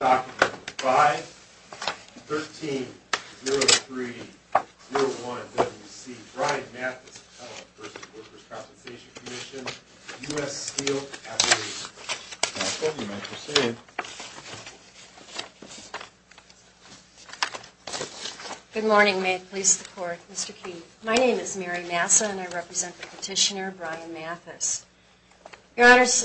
Document 5-13-03-01-WC Brian Mathis v. Workers' Compensation Commission, U.S. Steel, F.A.C.E. Mathis, you may proceed. Good morning. May it please the Court, Mr. Key. My name is Mary Mathis and I represent the petitioner, Brian Mathis. Your Honors,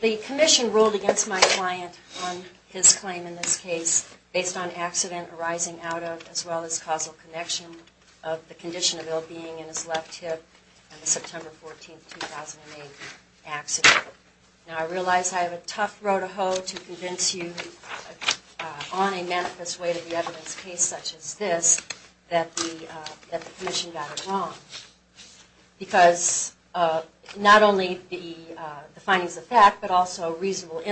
the Commission ruled against my client on his claim in this case based on accident arising out of, as well as, causal connection of the condition of ill-being in his left hip on the September 14, 2008 accident. Now, I realize I have a tough row to hoe to convince you on a manifest way to the evidence case such as this that the Commission got it wrong. Because not only the findings of fact, but also reasonable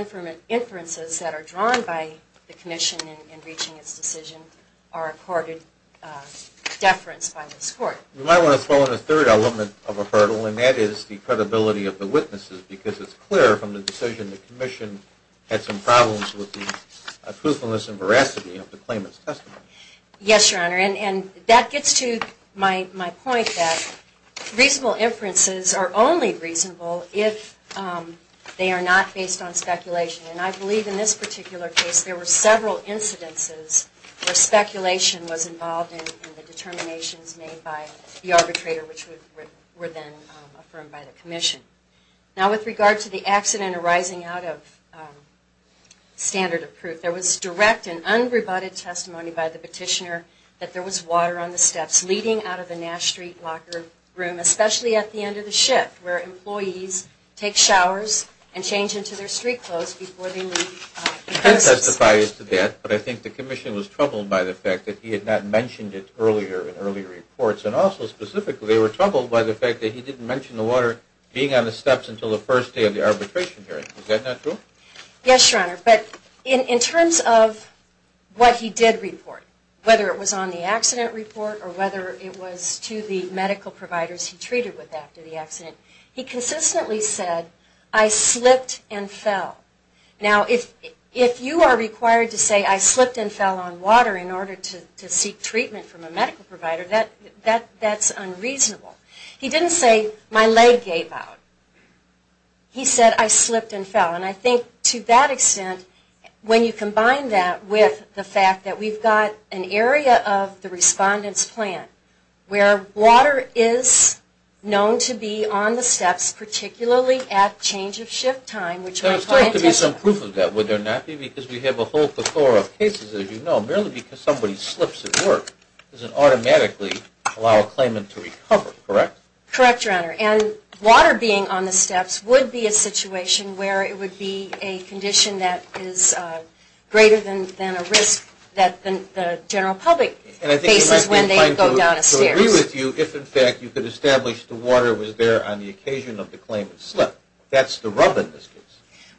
inferences that are drawn by the Commission in reaching its decision are accorded deference by this Court. You might want to throw in a third element of a hurdle, and that is the credibility of the witnesses, because it's clear from the decision the Commission had some problems with the truthfulness and veracity of the claimant's testimony. Yes, Your Honor, and that gets to my point that reasonable inferences are only reasonable if they are not based on speculation. And I believe in this particular case there were several incidences where speculation was involved in the determinations made by the arbitrator which were then affirmed by the Commission. Now, with regard to the accident arising out of standard of proof, there was direct and unrebutted testimony by the petitioner that there was water on the steps leading out of the Nash Street locker room, especially at the end of the shift where employees take showers and change into their street clothes before they leave the premises. I think the Commission was troubled by the fact that he had not mentioned it earlier in early reports, and also specifically they were troubled by the fact that he didn't mention the water being on the steps until the first day of the arbitration hearing. Is that not true? Yes, Your Honor, but in terms of what he did report, whether it was on the accident report or whether it was to the medical providers he treated with after the accident, he consistently said, I slipped and fell. Now, if you are required to say, I slipped and fell on water in order to seek treatment from a medical provider, that's unreasonable. He didn't say, my leg gave out. He said, I slipped and fell. And I think to that extent, when you combine that with the fact that we've got an area of the Respondent's plan where water is known to be on the steps, particularly at change of shift time, which my client is aware of. There's got to be some proof of that, would there not be? Because we have a whole plethora of cases, as you know, merely because somebody slips at work doesn't automatically allow a claimant to recover, correct? Correct, Your Honor. And water being on the steps would be a situation where it would be a condition that is greater than a risk that the general public faces when they go down the stairs. And I think it would be fine to agree with you if, in fact, you could establish the water was there on the occasion of the claimant's slip. That's the rub in this case.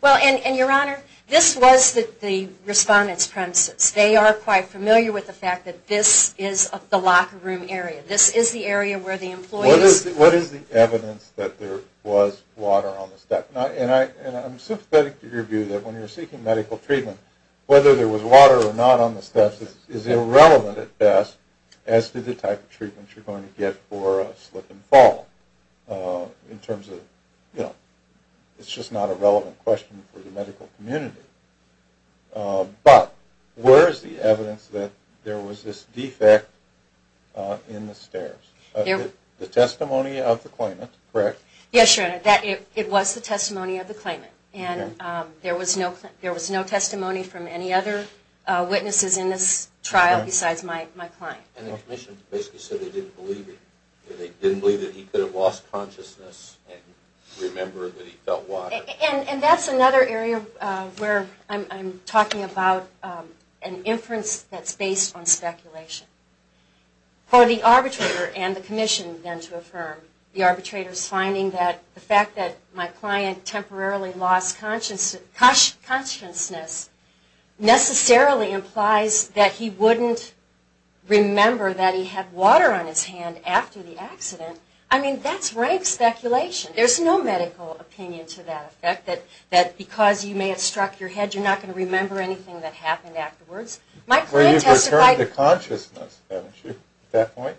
Well, and Your Honor, this was the Respondent's premises. They are quite familiar with the fact that this is the locker room area. This is the area where the employees... What is the evidence that there was water on the steps? And I'm sympathetic to your view that when you're seeking medical treatment, whether there was water or not on the steps is irrelevant at best, as to the type of treatment you're going to get for a slip and fall. In terms of, you know, it's just not a relevant question for the medical community. But where is the evidence that there was this defect in the stairs? The testimony of the claimant, correct? Yes, Your Honor. It was the testimony of the claimant. And there was no testimony from any other witnesses in this trial besides my client. And the Commission basically said they didn't believe it. They didn't believe that he could have lost consciousness and remember that he felt water. And that's another area where I'm talking about an inference that's based on speculation. For the arbitrator and the Commission then to affirm, the arbitrator's finding that the fact that my client temporarily lost consciousness necessarily implies that he wouldn't remember that he had water on his hand after the accident. I mean, that's rife speculation. There's no medical opinion to that effect, that because you may have struck your head, you're not going to remember anything that happened afterwards. Well, you've returned to consciousness, haven't you, at that point?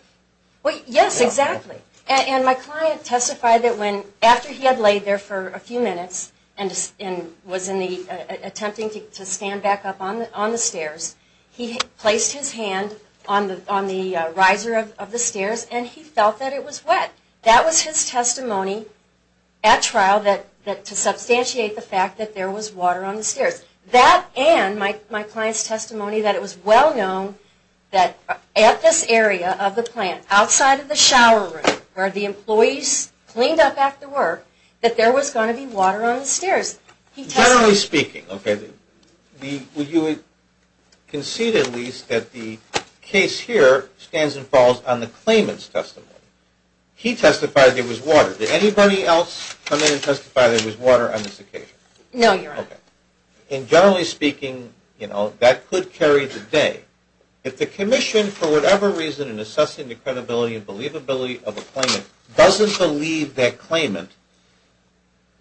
Yes, exactly. And my client testified that after he had laid there for a few minutes and was attempting to stand back up on the stairs, he placed his hand on the riser of the stairs and he felt that it was wet. That was his testimony at trial to substantiate the fact that there was water on the stairs. That and my client's testimony that it was well known that at this area of the plant, outside of the shower room where the employees cleaned up after work, that there was going to be water on the stairs. Generally speaking, okay, would you concede at least that the case here stands and falls on the claimant's testimony? He testified there was water. Did anybody else come in and testify there was water on this occasion? Okay. And generally speaking, you know, that could carry the day. If the commission, for whatever reason, in assessing the credibility and believability of a claimant, doesn't believe that claimant,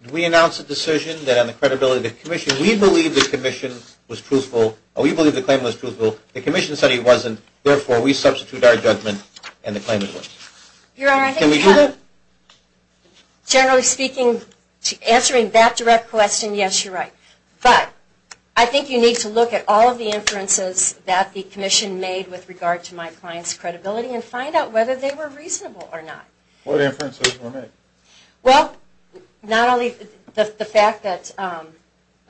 do we announce a decision that on the credibility of the commission, we believe the commission was truthful, or we believe the claimant was truthful, the commission said he wasn't, therefore we substitute our judgment and the claimant wins? Generally speaking, answering that direct question, yes, you're right. But I think you need to look at all of the inferences that the commission made with regard to my client's credibility and find out whether they were reasonable or not. What inferences were made? Well, not only the fact that,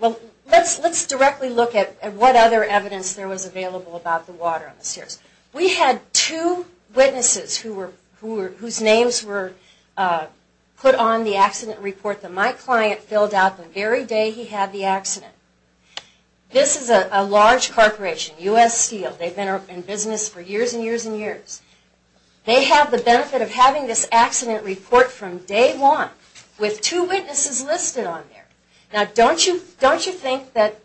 well, let's directly look at what other evidence there was available about the water on the stairs. We had two witnesses whose names were put on the accident report that my client filled out the very day he had the accident. This is a large corporation, U.S. Steel. They've been in business for years and years and years. They have the benefit of having this accident report from day one with two witnesses listed on there. Now, don't you think that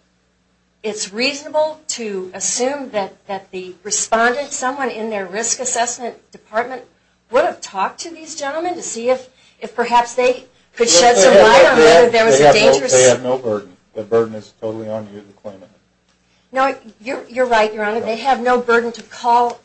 it's reasonable to assume that the respondent, someone in their risk assessment department, would have talked to these gentlemen to see if perhaps they could shed some light on whether there was a dangerous... They have no burden. The burden is totally on you, the claimant. No, you're right, Your Honor. They have no burden to call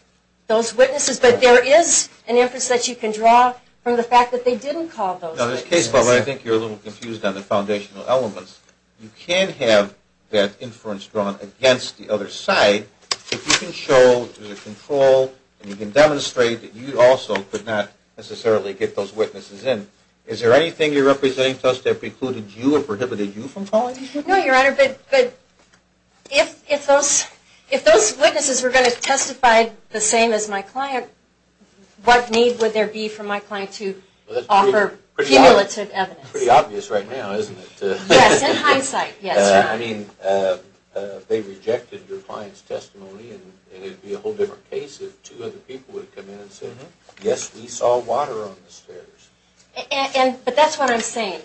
those witnesses, but there is an inference that you can draw from the fact that they didn't call those witnesses. Now, there's a case where I think you're a little confused on the foundational elements. You can have that inference drawn against the other side if you can show through the control and you can demonstrate that you also could not necessarily get those witnesses in. Is there anything you're representing to us that precluded you or prohibited you from calling? No, Your Honor, but if those witnesses were going to testify the same as my client, what need would there be for my client to offer cumulative evidence? Pretty obvious right now, isn't it? Yes, in hindsight, yes. I mean, they rejected your client's testimony and it would be a whole different case if two other people would have come in and said, yes, we saw water on the stairs. But that's what I'm saying.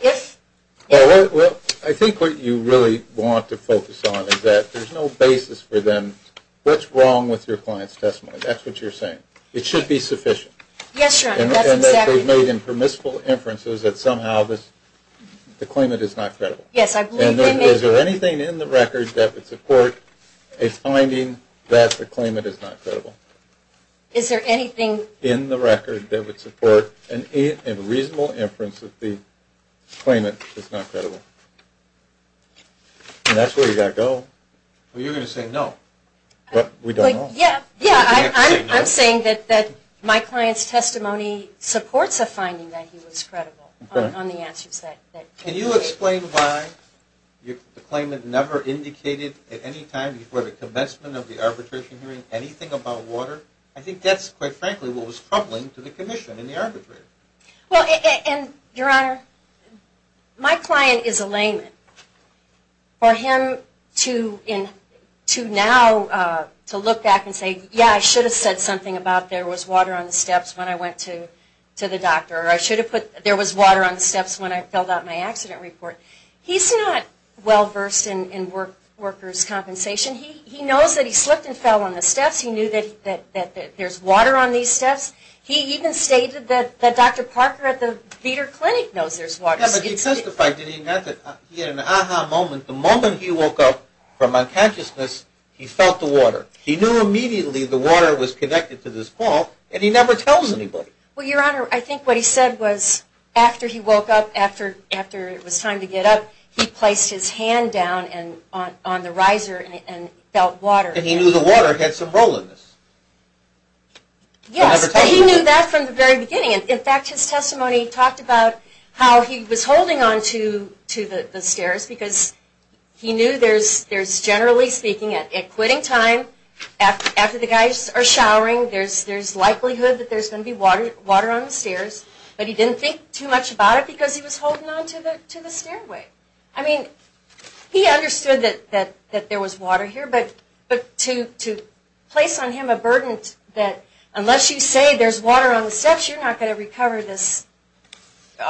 Well, I think what you really want to focus on is that there's no basis for them, what's wrong with your client's testimony? That's what you're saying. It should be sufficient. Yes, Your Honor, that's exactly right. And that they've made impermissible inferences that somehow the claimant is not credible. Yes, I believe they may. And is there anything in the record that would support a finding that the claimant is not credible? Is there anything... The claimant is not credible. And that's where you've got to go. Well, you're going to say no. But we don't know. Yeah, I'm saying that my client's testimony supports a finding that he was credible on the answers that... Can you explain why the claimant never indicated at any time before the commencement of the arbitration hearing anything about water? I think that's, quite frankly, what was troubling to the commission and the arbitrator. Well, and Your Honor, my client is a layman. For him to now look back and say, yeah, I should have said something about there was water on the steps when I went to the doctor, or I should have put there was water on the steps when I filled out my accident report. He's not well-versed in workers' compensation. He knows that he slipped and fell on the steps. He knew that there's water on these steps. He even stated that Dr. Parker at the Beter Clinic knows there's water on the steps. He testified that he had an aha moment. The moment he woke up from unconsciousness, he felt the water. He knew immediately the water was connected to this fall, and he never tells anybody. Well, Your Honor, I think what he said was after he woke up, after it was time to get up, he placed his hand down on the riser and felt water. And he knew the water had some role in this. Yes, but he knew that from the very beginning. In fact, his testimony talked about how he was holding on to the stairs because he knew there's, generally speaking, at quitting time, after the guys are showering, there's likelihood that there's going to be water on the stairs. But he didn't think too much about it because he was holding on to the stairway. I mean, he understood that there was water here, but to place on him a burden that, unless you say there's water on the steps, you're not going to recover this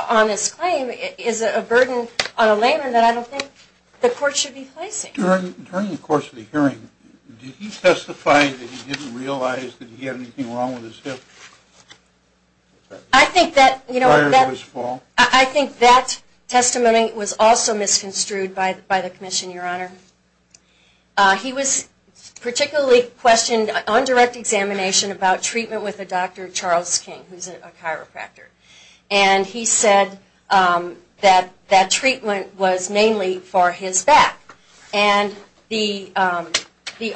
on this claim, is a burden on a layman that I don't think the court should be placing. During the course of the hearing, did he testify that he didn't realize that he had anything wrong with his hip prior to his fall? I think that testimony was also misconstrued by the commission, Your Honor. He was particularly questioned on direct examination about treatment with a Dr. Charles King, who's a chiropractor. And he said that that treatment was mainly for his back. And the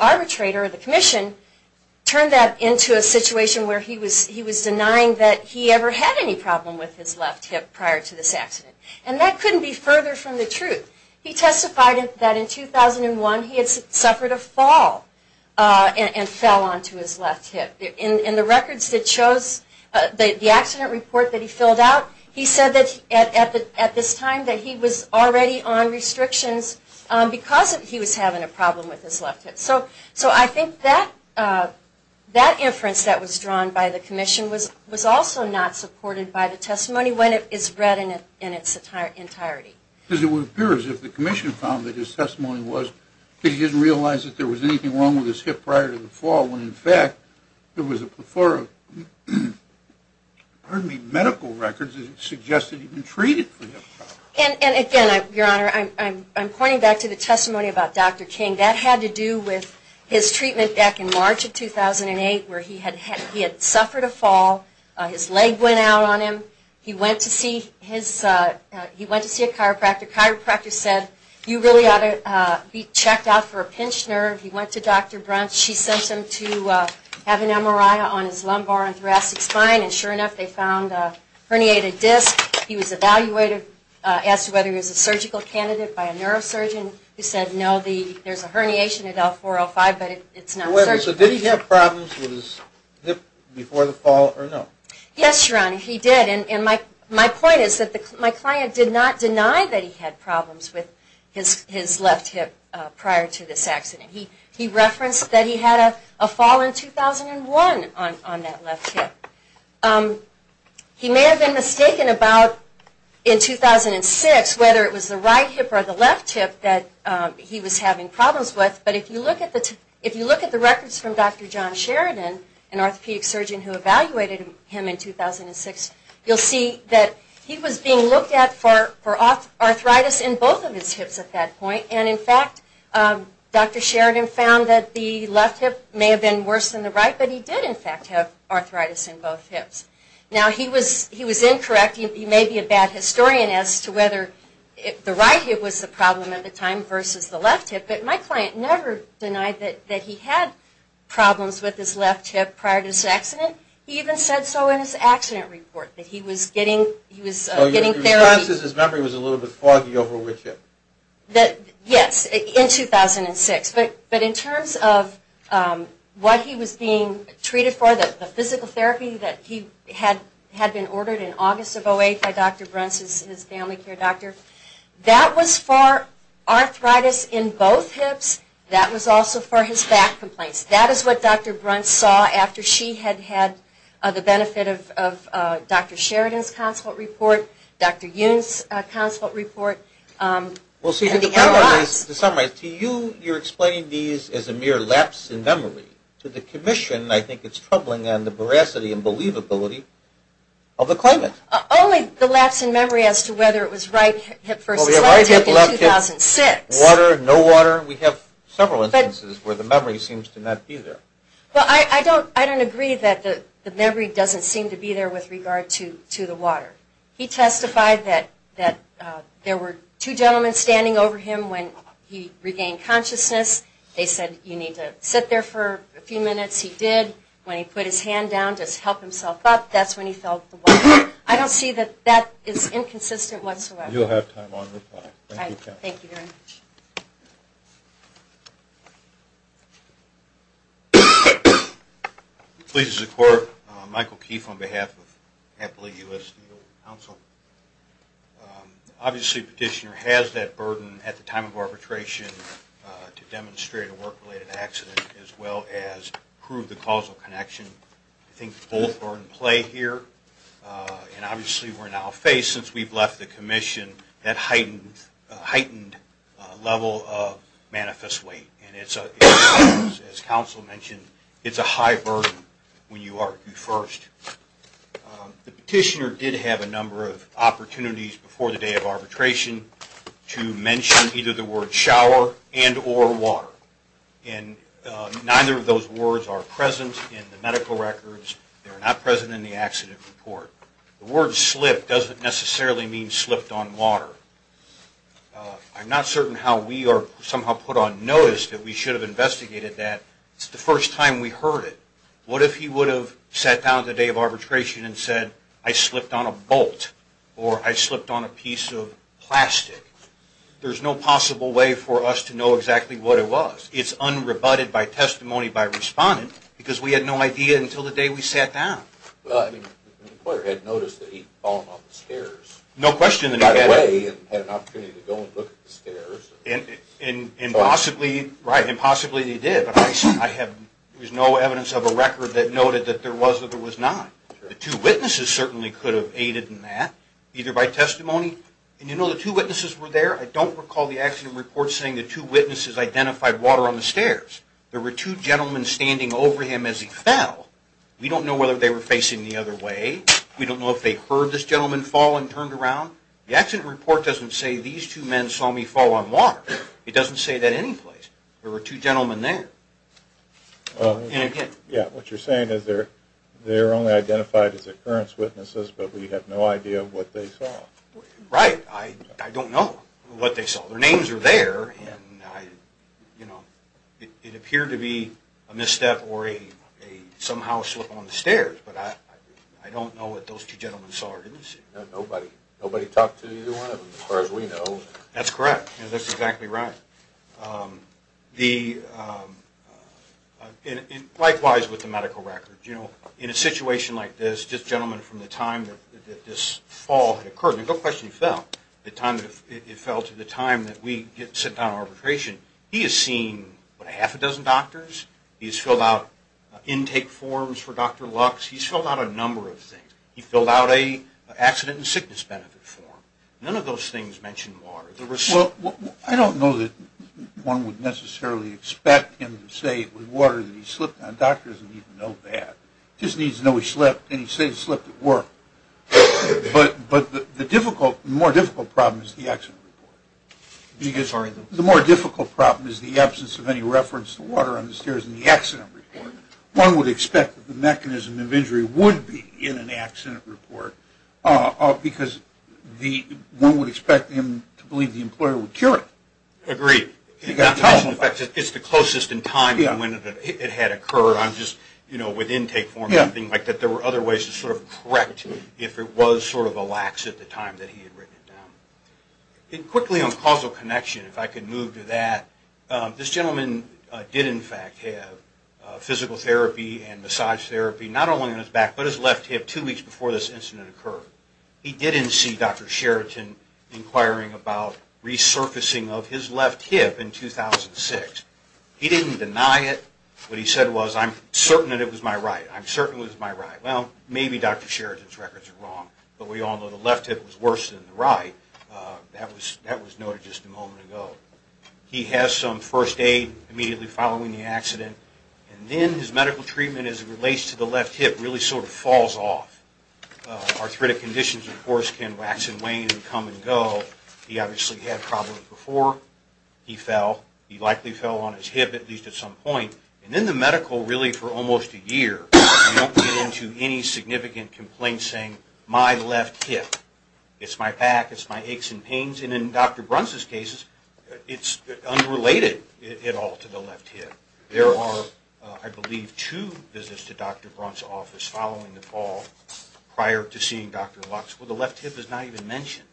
arbitrator, the commission, turned that into a situation where he was denying that he ever had any problem with his left hip prior to this accident. And that couldn't be further from the truth. He testified that in 2001 he had suffered a fall and fell onto his left hip. In the records that shows the accident report that he filled out, he said that at this time that he was already on restrictions because he was having a problem with his left hip. So I think that inference that was drawn by the commission was also not supported by the testimony when it is read in its entirety. Because it would appear as if the commission found that his testimony was that he didn't realize that there was anything wrong with his hip prior to the fall, when in fact there was a plethora of medical records that suggested he'd been treated for hip problems. And again, Your Honor, I'm pointing back to the testimony about Dr. King. That had to do with his treatment back in March of 2008 where he had suffered a fall. His leg went out on him. He went to see a chiropractor. The chiropractor said, you really ought to be checked out for a pinched nerve. He went to Dr. Brunch. She sent him to have an MRI on his lumbar and thoracic spine. And sure enough they found a herniated disc. He was evaluated as to whether he was a surgical candidate by a neurosurgeon. He said, no, there's a herniation at L405, but it's not surgical. So did he have problems with his hip before the fall or no? Yes, Your Honor, he did. And my point is that my client did not deny that he had problems with his left hip prior to this accident. He referenced that he had a fall in 2001 on that left hip. He may have been mistaken about in 2006 whether it was the right hip or the left hip that he was having problems with. But if you look at the records from Dr. John Sheridan, an orthopedic surgeon who evaluated him in 2006, you'll see that he was being looked at for arthritis in both of his hips at that point. And in fact, Dr. Sheridan found that the left hip may have been worse than the right, but he did in fact have arthritis in both hips. Now, he was incorrect. He may be a bad historian as to whether the right hip was the problem at the time versus the left hip. But my client never denied that he had problems with his left hip prior to this accident. He even said so in his accident report that he was getting therapy. So your response is his memory was a little bit foggy over which hip? Yes, in 2006. But in terms of what he was being treated for, the physical therapy that he had been ordered in August of 08 by Dr. Bruntz, his family care doctor, that was for arthritis in both hips. That was also for his back complaints. That is what Dr. Bruntz saw after she had had the benefit of Dr. Sheridan's consult report, Dr. Yoon's consult report. Well, see, to summarize, to you, you're explaining these as a mere lapse in memory. To the commission, I think it's troubling on the veracity and believability of the claimant. Only the lapse in memory as to whether it was right hip versus left hip in 2006. Well, we have right hip, left hip, water, no water. We have several instances where the memory seems to not be there. Well, I don't agree that the memory doesn't seem to be there with regard to the water. He testified that there were two gentlemen standing over him when he regained consciousness. They said, you need to sit there for a few minutes. He did. When he put his hand down to help himself up, that's when he felt the water. I don't see that that is inconsistent whatsoever. You'll have time on reply. Thank you. Thank you very much. Please, as a court, Michael Keefe on behalf of Appley U.S. Legal Counsel. Obviously, Petitioner has that burden at the time of arbitration to demonstrate a work-related accident as well as prove the causal connection. I think both are in play here. And obviously, we're now faced, since we've left the commission, that heightened level of manifest weight. As counsel mentioned, it's a high burden when you argue first. The petitioner did have a number of opportunities before the day of arbitration to mention either the word shower and or water. And neither of those words are present in the medical records. They're not present in the accident report. The word slip doesn't necessarily mean slipped on water. I'm not certain how we are somehow put on notice that we should have investigated that. It's the first time we heard it. What if he would have sat down the day of arbitration and said, I slipped on a bolt? Or, I slipped on a piece of plastic? There's no possible way for us to know exactly what it was. It's unrebutted by testimony by respondent because we had no idea until the day we sat down. The employer had noticed that he'd fallen on the stairs. No question that he had. And had an opportunity to go and look at the stairs. And possibly he did. But there's no evidence of a record that noted that there was or there was not. The two witnesses certainly could have aided in that, either by testimony. And you know the two witnesses were there? I don't recall the accident report saying the two witnesses identified water on the stairs. There were two gentlemen standing over him as he fell. We don't know whether they were facing the other way. We don't know if they heard this gentleman fall and turned around. The accident report doesn't say these two men saw me fall on water. It doesn't say that any place. There were two gentlemen there. And again. Yeah, what you're saying is they're only identified as occurrence witnesses but we have no idea what they saw. Right. I don't know what they saw. Their names are there. It appeared to be a misstep or a somehow slip on the stairs. But I don't know what those two gentlemen saw or didn't see. Nobody talked to either one of them as far as we know. That's correct. That's exactly right. Likewise with the medical records. In a situation like this, just gentlemen from the time that this fall had occurred, the time that it fell to the time that we sit down on arbitration, he has seen half a dozen doctors. He's filled out intake forms for Dr. Lux. He's filled out a number of things. He's filled out an accident and sickness benefit form. None of those things mention water. I don't know that one would necessarily expect him to say it was water that he slipped on. A doctor doesn't even know that. He just needs to know he slipped and he said he slipped at work. But the more difficult problem is the accident report. The more difficult problem is the absence of any reference to water on the stairs in the accident report. One would expect that the mechanism of injury would be in an accident report because one would expect him to believe the employer would cure it. Agreed. It's the closest in time to when it had occurred. I'm just, you know, with intake form, I think that there were other ways to sort of correct if it was sort of a lax at the time that he had written it down. And quickly on causal connection, if I could move to that, this gentleman did in fact have physical therapy and massage therapy, not only on his back but his left hip two weeks before this incident occurred. He didn't see Dr. Sheraton inquiring about resurfacing of his left hip in 2006. He didn't deny it. What he said was, I'm certain that it was my right. I'm certain it was my right. Well, maybe Dr. Sheraton's records are wrong, but we all know the left hip was worse than the right. That was noted just a moment ago. He has some first aid immediately following the accident, and then his medical treatment as it relates to the left hip really sort of falls off. Arthritic conditions, of course, can wax and wane and come and go. He obviously had problems before he fell. He likely fell on his hip at least at some point. And in the medical, really for almost a year, we don't get into any significant complaints saying, my left hip. It's my back. It's my aches and pains. And in Dr. Brunt's case, it's unrelated at all to the left hip. There are, I believe, two visits to Dr. Brunt's office following the fall prior to seeing Dr. Lux. Well, the left hip is not even mentioned,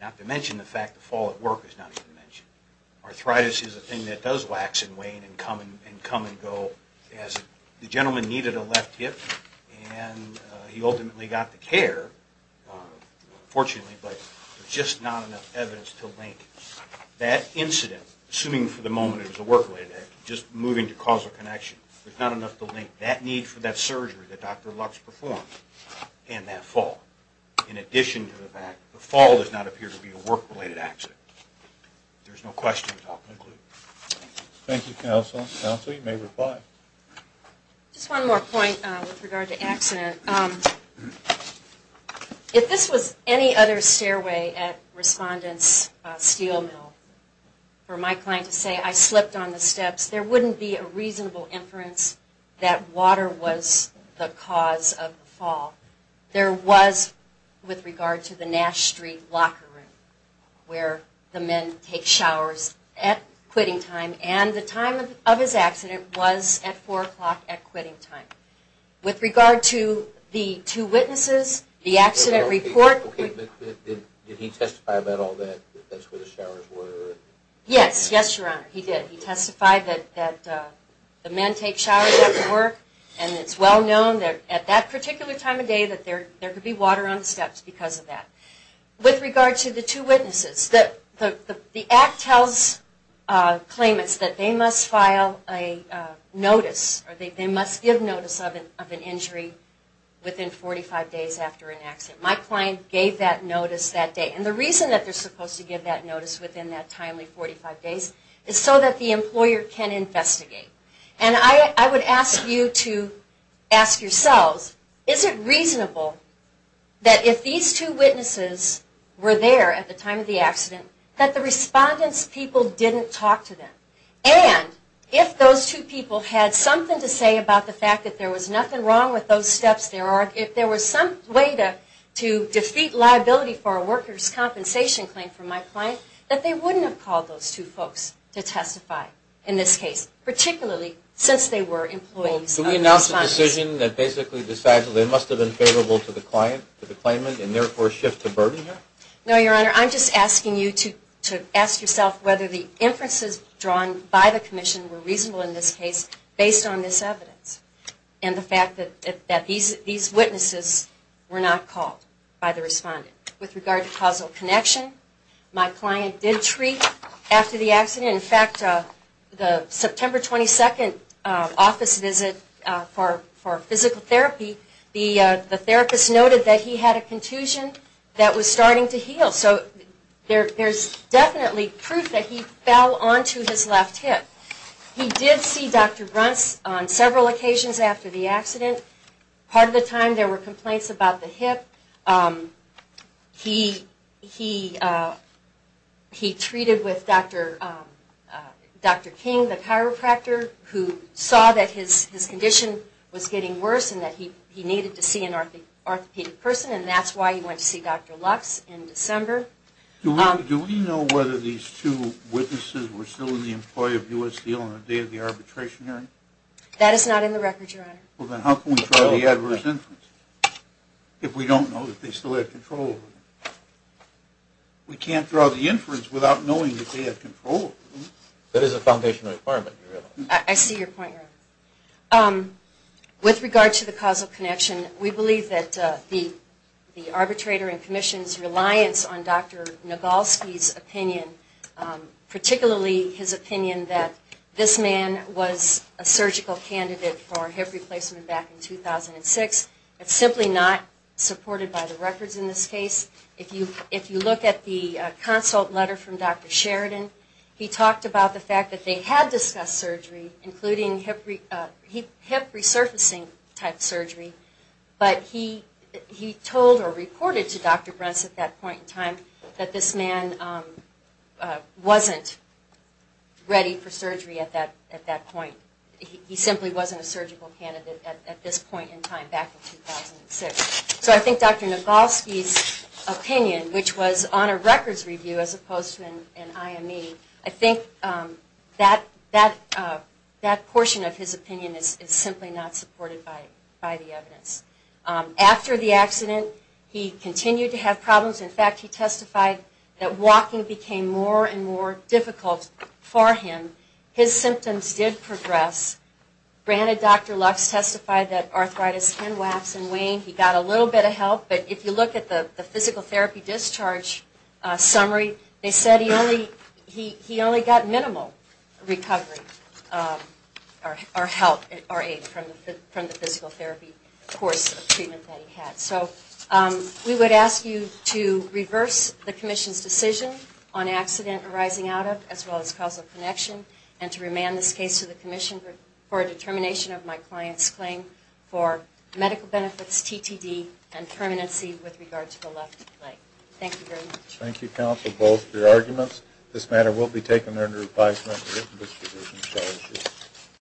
not to mention the fact the fall at work is not even mentioned. Arthritis is a thing that does wax and wane and come and go. The gentleman needed a left hip, and he ultimately got the care, fortunately, but there's just not enough evidence to link that incident, assuming for the moment it was a work-related accident, just moving to causal connection. There's not enough to link that need for that surgery that Dr. Lux performed and that fall in addition to the fact the fall does not appear to be a work-related accident. If there's no questions, I'll conclude. Thank you, Counsel. Counsel, you may reply. Just one more point with regard to accident. If this was any other stairway at Respondent's Steel Mill, for my client to say, I slipped on the steps, there wouldn't be a reasonable inference that water was the cause of the fall. There was with regard to the Nash Street locker room, where the men take showers at quitting time, and the time of his accident was at 4 o'clock at quitting time. With regard to the two witnesses, the accident report. Did he testify about all that, that that's where the showers were? Yes, yes, Your Honor, he did. He testified that the men take showers at the work, and it's well known that at that particular time of day, that there could be water on the steps because of that. With regard to the two witnesses, the act tells claimants that they must file a notice, or they must give notice of an injury within 45 days after an accident. My client gave that notice that day. And the reason that they're supposed to give that notice within that timely 45 days is so that the employer can investigate. And I would ask you to ask yourselves, is it reasonable that if these two witnesses were there at the time of the accident, that the respondent's people didn't talk to them? And if those two people had something to say about the fact that there was nothing wrong with those steps, if there was some way to defeat liability for a worker's compensation claim from my client, that they wouldn't have called those two folks to testify in this case, particularly since they were employees of the respondent? Well, can we announce a decision that basically decides that they must have been favorable to the client, to the claimant, and therefore shift the burden here? No, Your Honor. I'm just asking you to ask yourself whether the inferences drawn by the commission were reasonable in this case based on this evidence and the fact that these witnesses were not called by the respondent. With regard to causal connection, my client did treat after the accident. In fact, the September 22nd office visit for physical therapy, the therapist noted that he had a contusion that was starting to heal. So there's definitely proof that he fell onto his left hip. He did see Dr. Bruntz on several occasions after the accident. Part of the time there were complaints about the hip. He treated with Dr. King, the chiropractor, who saw that his condition was getting worse and that he needed to see an orthopedic person, and that's why he went to see Dr. Lux in December. Do we know whether these two witnesses were still the employee of U.S. Steel on the day of the arbitration hearing? That is not in the record, Your Honor. Well, then how can we draw the adverse inference if we don't know that they still had control? We can't draw the inference without knowing that they had control. That is a foundational requirement, Your Honor. I see your point, Your Honor. With regard to the causal connection, we believe that the arbitrator and commission's reliance on Dr. Nagolsky's opinion, particularly his opinion that this man was a surgical candidate for hip replacement back in 2006, is simply not supported by the records in this case. If you look at the consult letter from Dr. Sheridan, he talked about the fact that they had discussed surgery, including hip resurfacing type surgery, but he told or reported to Dr. Bruntz at that point in time that this man wasn't ready for surgery at that point. He simply wasn't a surgical candidate at this point in time, back in 2006. So I think Dr. Nagolsky's opinion, which was on a records review as opposed to an IME, I think that portion of his opinion is simply not supported by the evidence. After the accident, he continued to have problems. In fact, he testified that walking became more and more difficult for him. His symptoms did progress. Granted, Dr. Lux testified that arthritis, skin wax, and waning, he got a little bit of help. But if you look at the physical therapy discharge summary, they said he only got minimal recovery or aid from the physical therapy course of treatment that he had. So we would ask you to reverse the commission's decision on accident arising out of, as well as causal connection, and to remand this case to the commission for a determination of my client's claim for medical benefits, TTD, and permanency with regard to the left leg. Thank you very much. Thank you, counsel, both for your arguments. This matter will be taken under advisement.